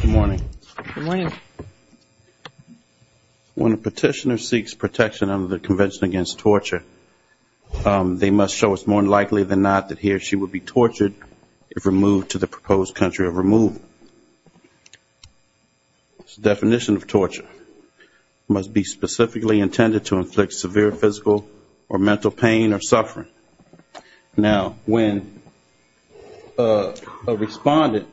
Good morning. When a petitioner seeks protection under the Convention Against Torture, they must show it's more likely than not that he or she would be tortured if removed to the proposed country of removal. It's a definition of torture. It must be specifically intended to inflict severe physical or mental pain or suffering. Now, when a respondent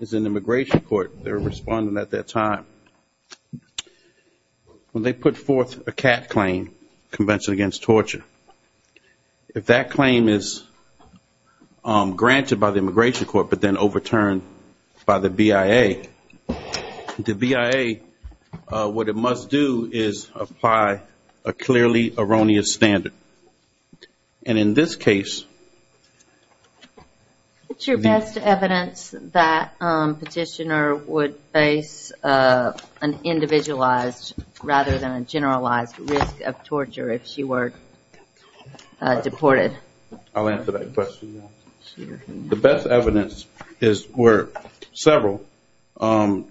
is in immigration court, they're a respondent at that time, when they put forth a CAT claim, Convention Against Torture, if that claim is granted by the immigration court but then overturned by the immigration court, that's a violation of the Convention Against Torture. The BIA, what it must do is apply a clearly erroneous standard. And in this case… What's your best evidence that a petitioner would face an individualized rather than a generalized risk of torture if she were deported? I'll answer that question. The best evidence were several,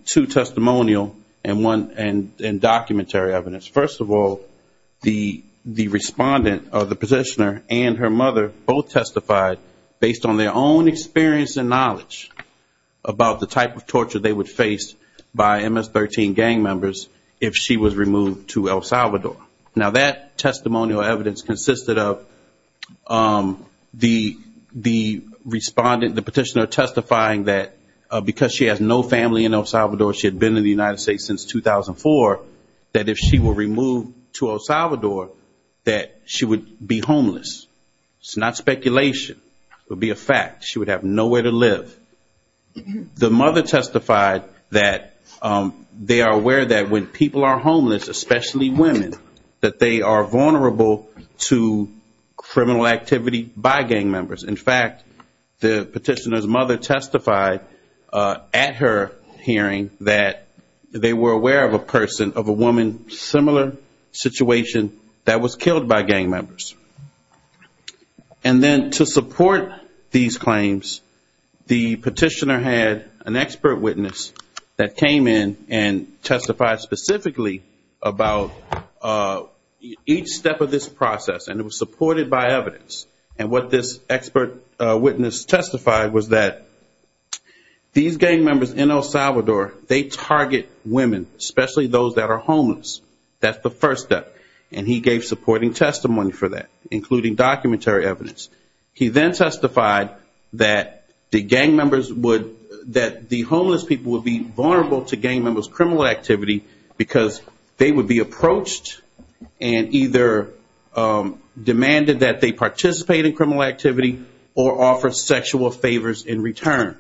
two testimonial and one in documentary evidence. First of all, the respondent or the petitioner and her mother both testified based on their own experience and knowledge about the type of torture they would face by MS-13 gang members if she was removed to El Salvador. Now, that testimonial evidence consisted of the respondent, the petitioner testifying that because she has no family in El Salvador, she had been in the United States since 2004, that if she were removed to El Salvador, that she would be homeless. It's not speculation. It would be a fact. She would have nowhere to live. The mother testified that they are aware that when people are homeless, especially women, that they are vulnerable to criminal activity by gang members. In fact, the petitioner's mother testified at her hearing that they were aware of a person, of a woman, similar situation, that was killed by gang members. And then to support these claims, the petitioner had an expert witness that came in and testified specifically about each step of this process. And it was supported by evidence. And what this expert witness testified was that these gang members in El Salvador, they target women, especially those that are homeless. That's the first step. And he gave supporting testimony for that. Including documentary evidence. He then testified that the homeless people would be vulnerable to gang members' criminal activity because they would be approached and either demanded that they participate in criminal activity or offer sexual favors in return.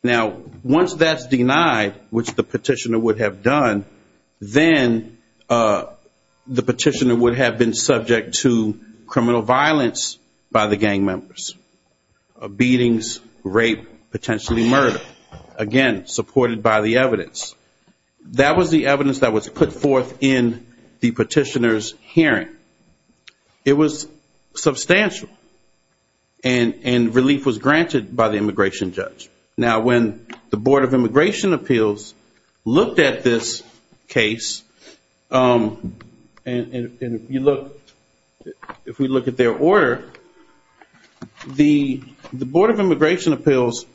Now, once that's denied, which the petitioner would have done, then the petitioner would have been subject to criminal violence by the gang members. Beatings, rape, potentially murder. Again, supported by the evidence. That was the evidence that was put forth in the petitioner's hearing. It was substantial. And relief was granted by the immigration judge. Now, when the Board of Immigration Appeals looked at this case, and if we look at their order, the Board of Immigration Appeals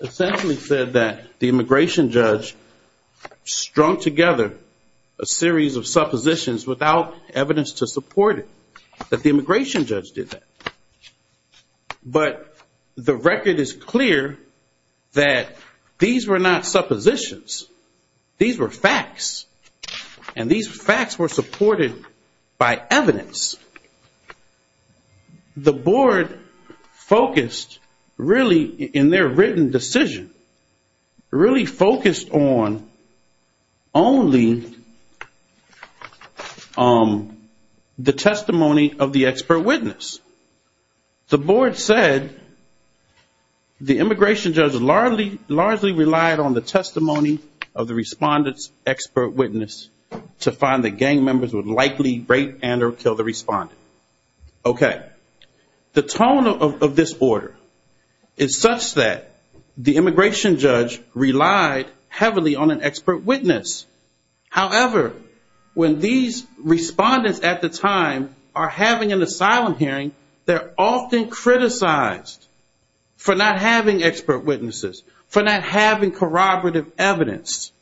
essentially said that the immigration judge, strung together a series of suppositions without evidence to support it. That the immigration judge did that. But the record is clear that these were not suppositions. These were facts. And these facts were supported by evidence. The board focused really, in their written decision, really focused on only the testimony of the expert witness. The board said the immigration judge largely relied on the testimony of the respondent's expert witness to find that gang members would likely rape and or kill the respondent. Okay. The tone of this order is such that the immigration judge relied heavily on an expert witness. However, when these respondents at the time are having an asylum hearing, they're often criticized for not having expert witnesses. For not having corroborative evidence.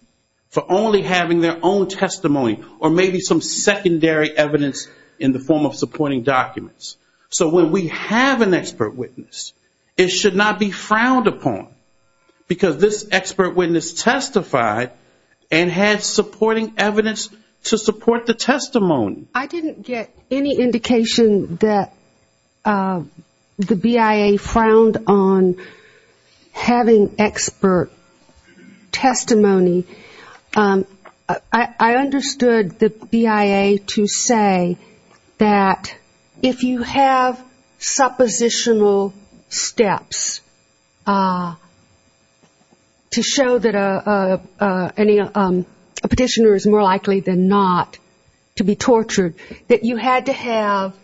For only having their own testimony. Or maybe some secondary evidence in the form of supporting documents. So when we have an expert witness, it should not be frowned upon. Because this expert witness testified and had supporting evidence to support the testimony. I didn't get any indication that the BIA frowned on having expert testimony. I understood the BIA to say that if you have suppositional steps to show that a petitioner is more likely than not to be tortured, that is not suppositional. That you had to have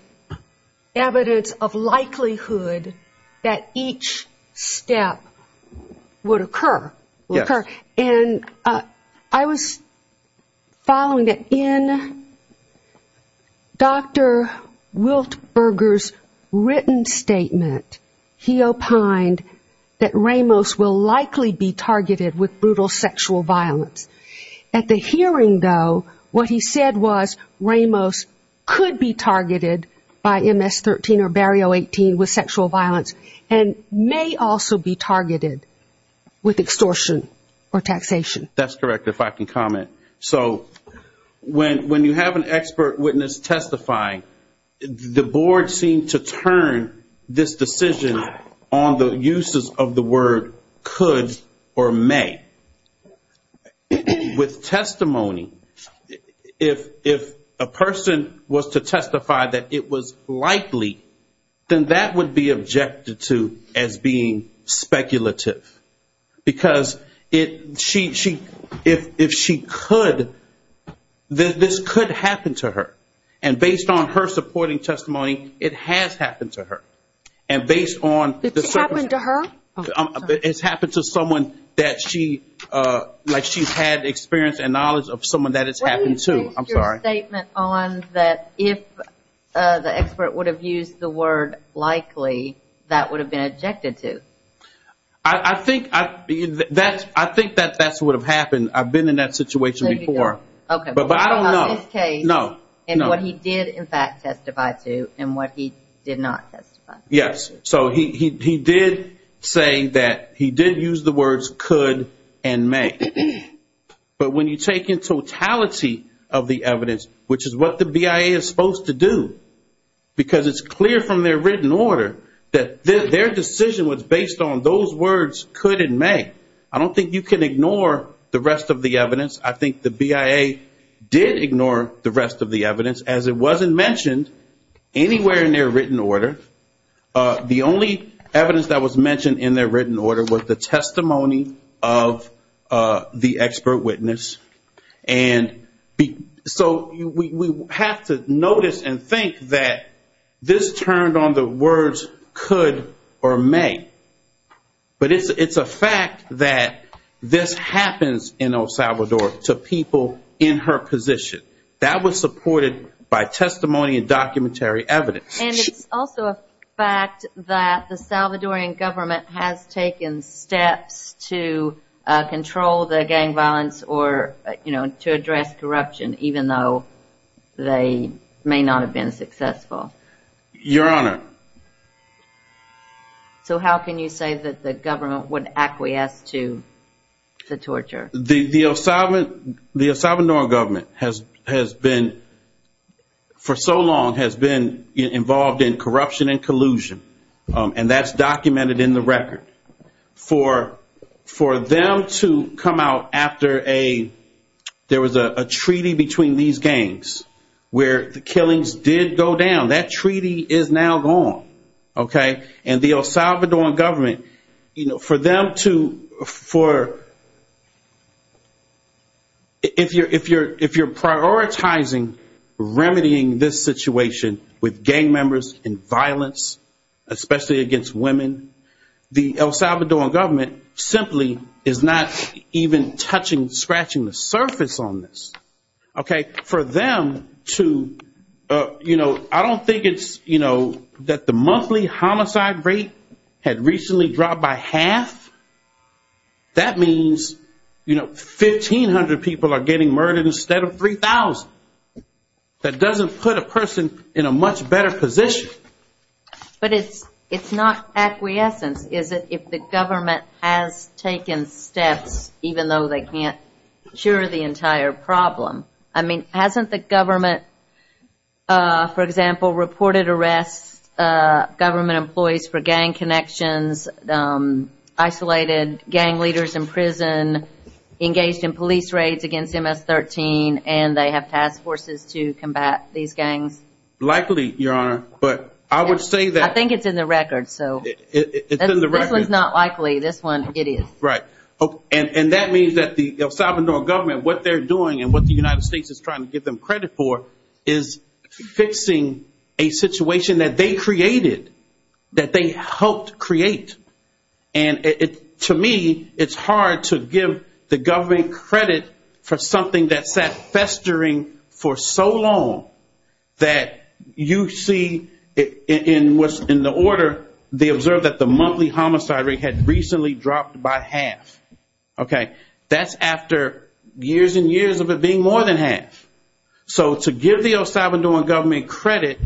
evidence of likelihood that each step would occur. And I was following that in Dr. Wiltberger's written statement, he opined that Ramos will likely be targeted with brutal sexual violence. At the hearing, though, what he said was Ramos could be targeted by MS-13 or Barrio 18 with sexual violence. And may also be targeted with extortion or taxation. That's correct, if I can comment. So when you have an expert witness testifying, the board seemed to turn this decision on the uses of the word could or may. With testimony, if a person was to testify that it was likely, then that would be objected to as being speculative. Because if she could, then this could happen to her. And based on her supporting testimony, it has happened to her. It's happened to her? It's happened to someone that she, like she's had experience and knowledge of someone that it's happened to. I'm sorry. What do you base your statement on that if the expert would have used the word likely, that would have been objected to? I think that that's what would have happened. I've been in that situation before. Okay, but what about this case and what he did in fact testify to and what he did not testify to? Yes, so he did say that he did use the words could and may. But when you take in totality of the evidence, which is what the BIA is supposed to do, because it's clear from their written order that their decision was based on those words could and may. I don't think you can ignore the rest of the evidence. I think the BIA did ignore the rest of the evidence as it wasn't mentioned anywhere in their written order. The only evidence that was mentioned in their written order was the testimony of the expert witness. So we have to notice and think that this turned on the words could or may. But it's a fact that this happens in El Salvador to people in her position. That was supported by testimony and documentary evidence. And it's also a fact that the Salvadoran government has taken steps to control the gang violence or to address corruption, even though they may not have been successful. Your Honor. So how can you say that the government would acquiesce to the torture? The El Salvadoran government for so long has been involved in corruption and collusion. And that's documented in the record. For them to come out after there was a treaty between these gangs where the killings did go down, that treaty is now gone. And the El Salvadoran government, if you're prioritizing remedying this situation with gang members and violence, especially against women, the El Salvadoran government simply is not even touching, scratching the surface on this. For them to, I don't think it's that the monthly homicide rate had recently dropped by half. That means 1,500 people are getting murdered instead of 3,000. That doesn't put a person in a much better position. But it's not acquiescence, is it, if the government has taken steps, even though they can't cure the entire problem? I mean, hasn't the government, for example, reported arrests, government employees for gang connections, isolated gang leaders in prison, engaged in police raids against MS-13, and they have task forces to combat these gangs? Likely, Your Honor. But I would say that... I think it's in the record, so... It's in the record. This one's not likely. This one, it is. Right. And that means that the El Salvadoran government, what they're doing and what the United States is trying to give them credit for is fixing a situation that they created, that they helped create. And to me, it's hard to give the government credit for something that sat festering for so long that you see in the order, they observed that the monthly homicide rate had recently dropped by half. Okay? That's after years and years of it being more than half. So to give the El Salvadoran government credit...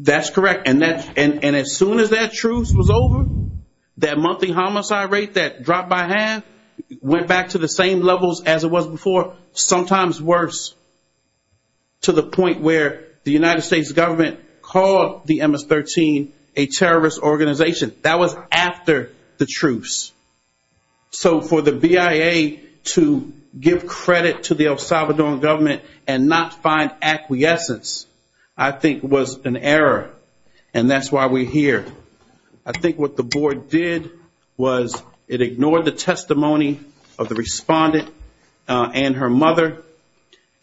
That's correct. And as soon as that truce was over, that monthly homicide rate that dropped by half went back to the same levels as it was before, sometimes worse, to the point where the United States government called the MS-13 a terrorist organization. That was after the truce. So for the BIA to give credit to the El Salvadoran government and not find acquiescence, I think was an error. And that's why we're here. I think what the board did was it ignored the testimony of the respondent and her mother,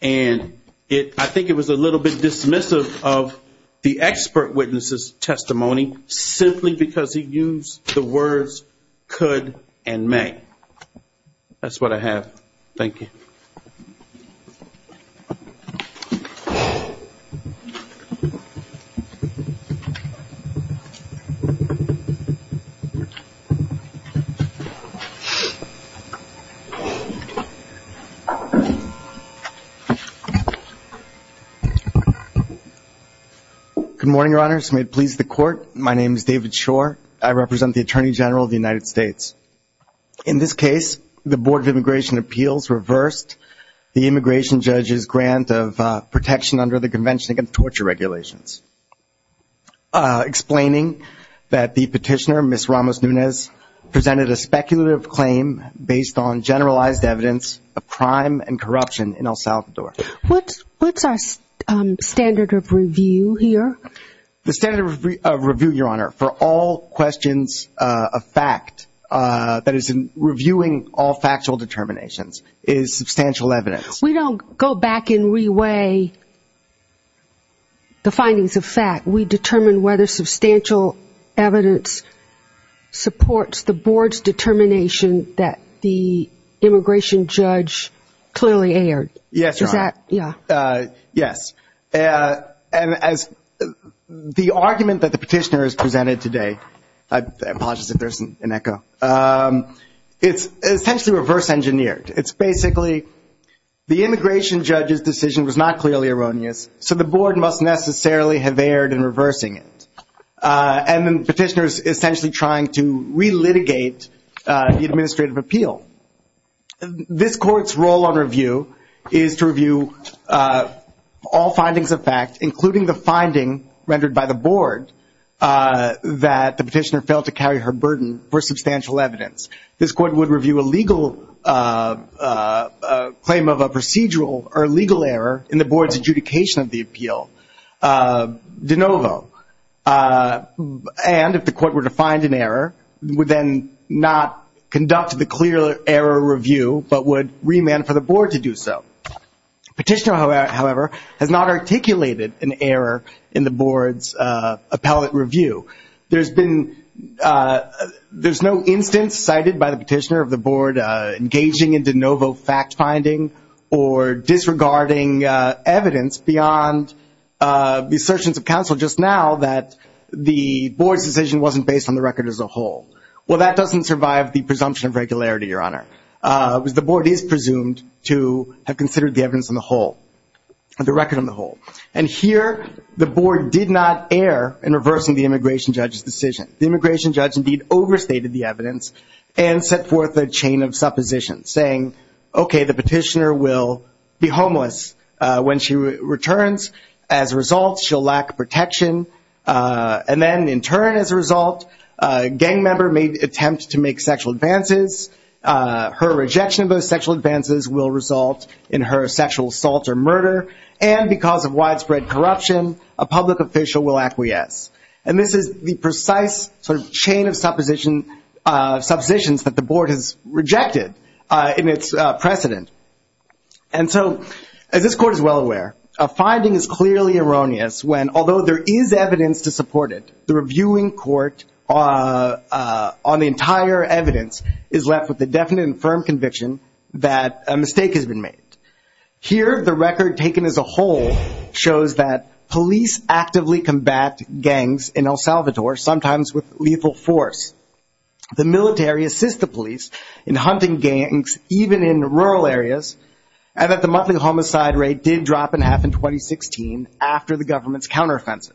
and I think it was a little bit dismissive of the expert witness' testimony, simply because he used the words could and may. That's what I have. Thank you. Good morning, Your Honors. May it please the court, my name is David Shore. I represent the Attorney General of the United States. In this case, the Board of Immigration Appeals reversed the immigration judge's grant of protection under the Convention Against Torture Regulations. Explaining that the petitioner, Ms. Ramos-Nunez, presented a speculative claim based on generalized evidence of crime and corruption in El Salvador. What's our standard of review here? The standard of review, Your Honor, for all questions of fact, that is reviewing all factual determinations, is substantial evidence. We don't go back and re-weigh the findings of fact. We determine whether substantial evidence supports the board's determination that the immigration judge clearly erred. Yes, Your Honor. Yes. And as the argument that the petitioner has presented today, I apologize if there isn't an echo, it's essentially reverse engineered. It's basically the immigration judge's decision was not clearly erroneous, so the board must necessarily have erred in reversing it. And the petitioner is essentially trying to re-litigate the administrative appeal. This court's role on review is to review all findings of fact, including the finding rendered by the board, that the petitioner failed to carry her burden for substantial evidence. This court would review a legal claim of a procedural or legal error in the board's adjudication of the appeal de novo. And if the court were to find an error, would then not conduct the clear error review, but would remand for the board to do so. Petitioner, however, has not articulated an error in the board's appellate review. There's been, there's no instance cited by the petitioner of the board engaging in de novo fact finding or disregarding evidence beyond the assertions of counsel just now that the board's decision wasn't based on the record as a whole. Well, that doesn't survive the presumption of regularity, your honor. The board is presumed to have considered the evidence on the whole, the record on the whole. And here, the board did not err in reversing the immigration judge's decision. The immigration judge, indeed, overstated the evidence and set forth a chain of supposition, saying, okay, the petitioner will be homeless when she returns. As a result, she'll lack protection. And then, in turn, as a result, a gang member may attempt to make sexual advances. Her rejection of those sexual advances will result in her sexual assault or murder. And because of widespread corruption, a public official will acquiesce. And this is the precise sort of chain of supposition, of suppositions that the board has rejected in its precedent. And so, as this court is well aware, a finding is clearly erroneous when, although there is evidence to support it, the reviewing court on the entire evidence is left with the definite and firm conviction that a mistake has been made. Here, the record taken as a whole shows that police actively combat gangs in El Salvador, sometimes with lethal force. The military assists the police in hunting gangs, even in rural areas, and that the monthly homicide rate did drop in half in 2016 after the government's counteroffensive.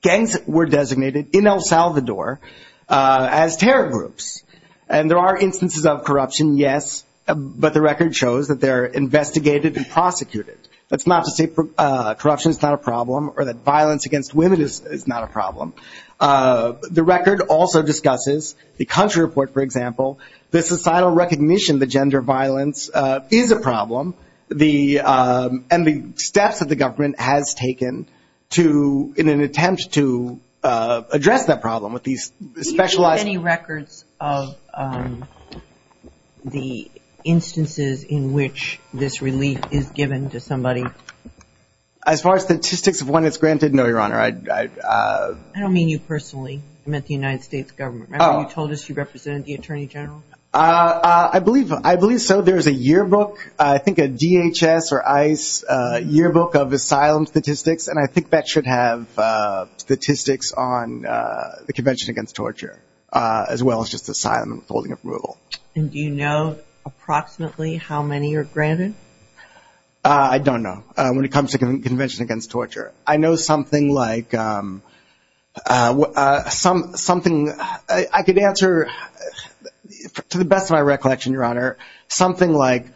Gangs were designated in El Salvador as terror groups. And there are instances of corruption, yes, but the record shows that they're investigated and prosecuted. That's not to say that corruption is not a problem or that violence against women is not a problem. The record also discusses the country report, for example, the societal recognition that gender violence is a problem, and the steps that the government has taken to, in an attempt to address that problem with these specialized... Do you have any records of the instances in which this relief is given to somebody? As far as statistics of when it's granted, no, Your Honor. I don't mean you personally. I meant the United States government. Remember you told us you represented the Attorney General? I believe so. There's a yearbook, I think a DHS or ICE yearbook of asylum statistics, and I think that should have statistics on the Convention Against Torture, as well as just asylum and withholding approval. And do you know approximately how many are granted? I don't know, when it comes to Convention Against Torture. I know something like... I could answer, to the best of my recollection, Your Honor, something like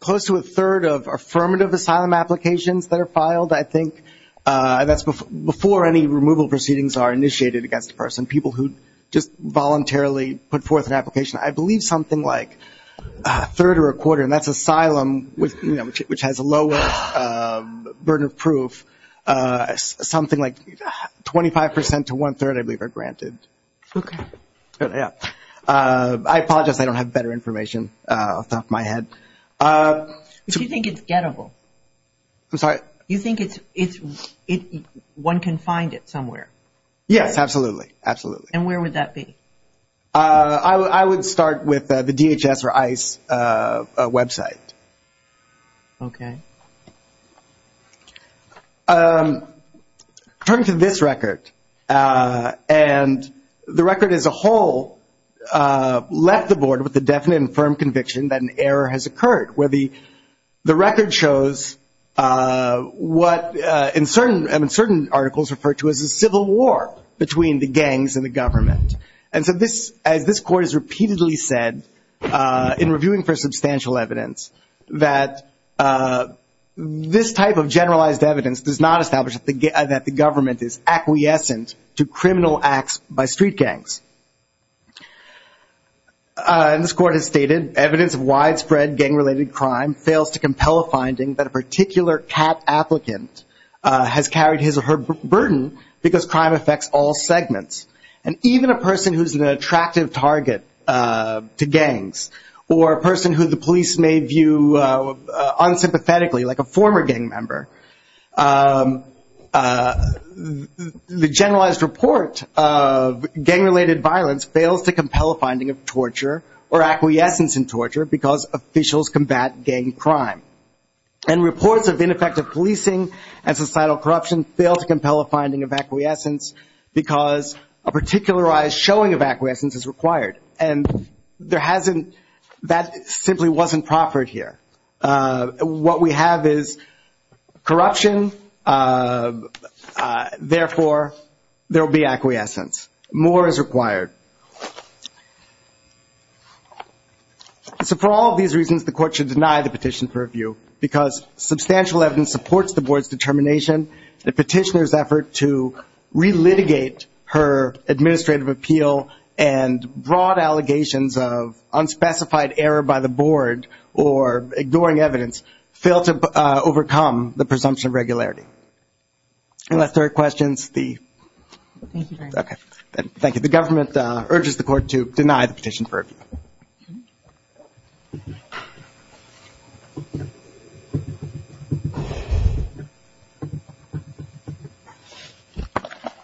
close to a third of affirmative asylum applications that are filed, I think, that's before any removal proceedings are initiated against a person, people who just voluntarily put forth an application. I believe something like a third or a quarter, and that's asylum, which has a lower burden of proof, something like 25% to one-third, I believe, are granted. Okay. I apologize, I don't have better information off the top of my head. Do you think it's gettable? I'm sorry? Do you think one can find it somewhere? Yes, absolutely, absolutely. And where would that be? I would start with the DHS or ICE website. Okay. Turning to this record, and the record as a whole left the board with a definite and firm conviction that an error has occurred, where the record shows what, in certain articles, referred to as a civil war between the gangs and the government. And so this, as this court has repeatedly said in reviewing for substantial evidence, that this type of generalized evidence does not establish that the government is acquiescent to criminal acts by street gangs. And this court has stated, evidence of widespread gang-related crime fails to compel a finding that a particular CAT applicant has carried his or her burden because crime affects all segments. And even a person who's an attractive target to gangs, or a person who the police may view unsympathetically, like a former gang member, the generalized report of gang-related violence fails to compel a finding of torture or acquiescence in torture because officials combat gang crime. And reports of ineffective policing and societal corruption fail to compel a finding of acquiescence because a particularized showing of acquiescence is required. And there hasn't, that simply wasn't proffered here. What we have is corruption. Therefore, there will be acquiescence. More is required. So for all of these reasons, the court should deny the petition for review because substantial evidence supports the board's determination. The petitioner's effort to re-litigate her administrative appeal and broad allegations of unspecified error by the board or ignoring evidence fail to overcome the presumption of regularity. Unless there are questions. Thank you. The government urges the court to deny the petition for review.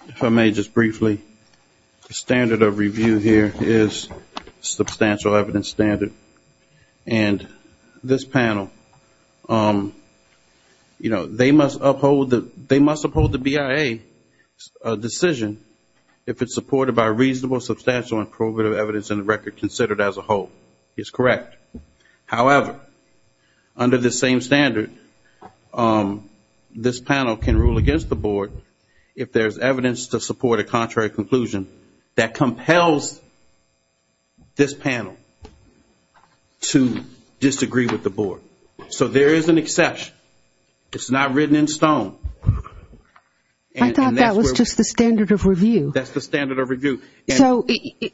If I may just briefly, the standard of review here is substantial evidence standard. And this panel, you know, they must uphold the BIA decision if it's supported by reasonable, substantial, and probative evidence in the record considered as a whole. However, under the same standard, this panel can rule against the board if there's evidence to support a contrary conclusion that compels this panel to disagree with the board. So there is an exception. It's not written in stone. I thought that was just the standard of review. That's the standard of review. So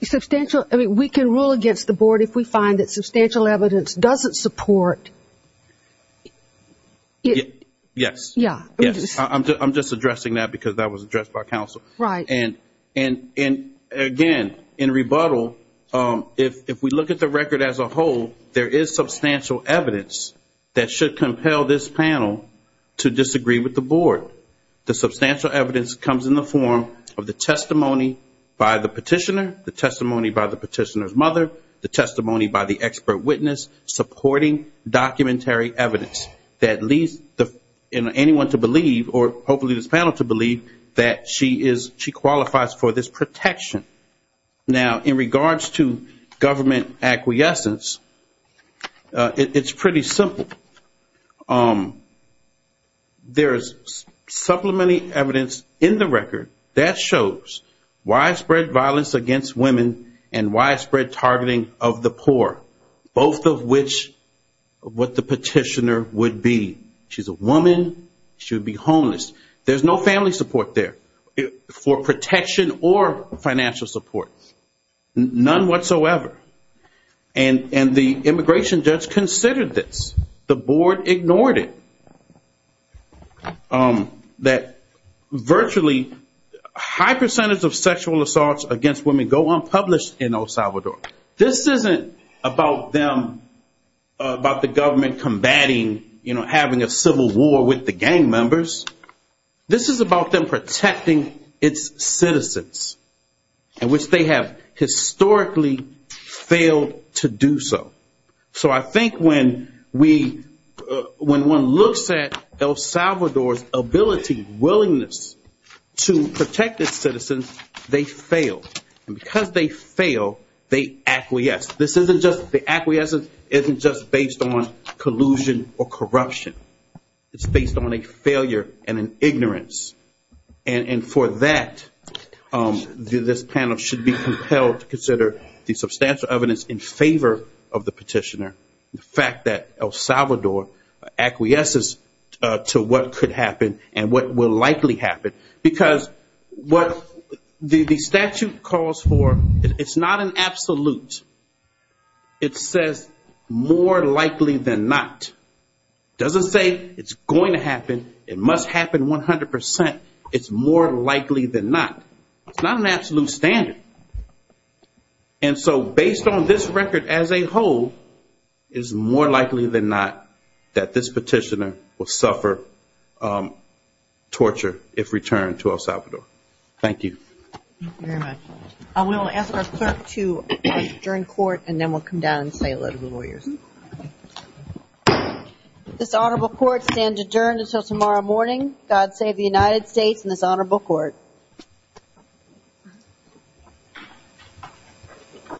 substantial, I mean, we can rule against the board if we find that substantial evidence doesn't support. Yes. Yeah. I'm just addressing that because that was addressed by counsel. Right. And again, in rebuttal, if we look at the record as a whole, there is substantial evidence that should compel this panel to disagree with the board. The substantial evidence comes in the form of the testimony by the petitioner, the testimony by the petitioner's mother, the testimony by the expert witness, supporting documentary evidence that leads anyone to believe, or hopefully this panel to believe, that she qualifies for this protection. Now, in regards to government acquiescence, it's pretty simple. There is supplementary evidence in the record that shows widespread violence against women and widespread targeting of the poor, both of which what the petitioner would be. She's a woman. She would be homeless. There's no family support there for protection or financial support, none whatsoever. And the immigration judge considered this. The board ignored it. That virtually high percentage of sexual assaults against women go unpublished in El Salvador. This isn't about them, about the government combating, you know, having a civil war with the gang members. This is about them protecting its citizens, in which they have historically failed to do so. So I think when we, when one looks at El Salvador's ability, willingness to protect its citizens, they fail. And because they fail, they acquiesce. This isn't just, the acquiescence isn't just based on collusion or corruption. It's based on a failure and an ignorance. And for that, this panel should be compelled to consider the substantial evidence in favor of the petitioner, the fact that El Salvador acquiesces to what could happen and what will likely happen. Because what the statute calls for, it's not an absolute. It says more likely than not. It doesn't say it's going to happen. It must happen 100%. It's more likely than not. It's not an absolute standard. And so based on this record as a whole, it's more likely than not that this petitioner will suffer torture if returned to El Salvador. Thank you. Thank you very much. I will ask our clerk to adjourn court and then we'll come down and say a load of the lawyers. This honorable court stands adjourned until tomorrow morning. God save the United States and this honorable court.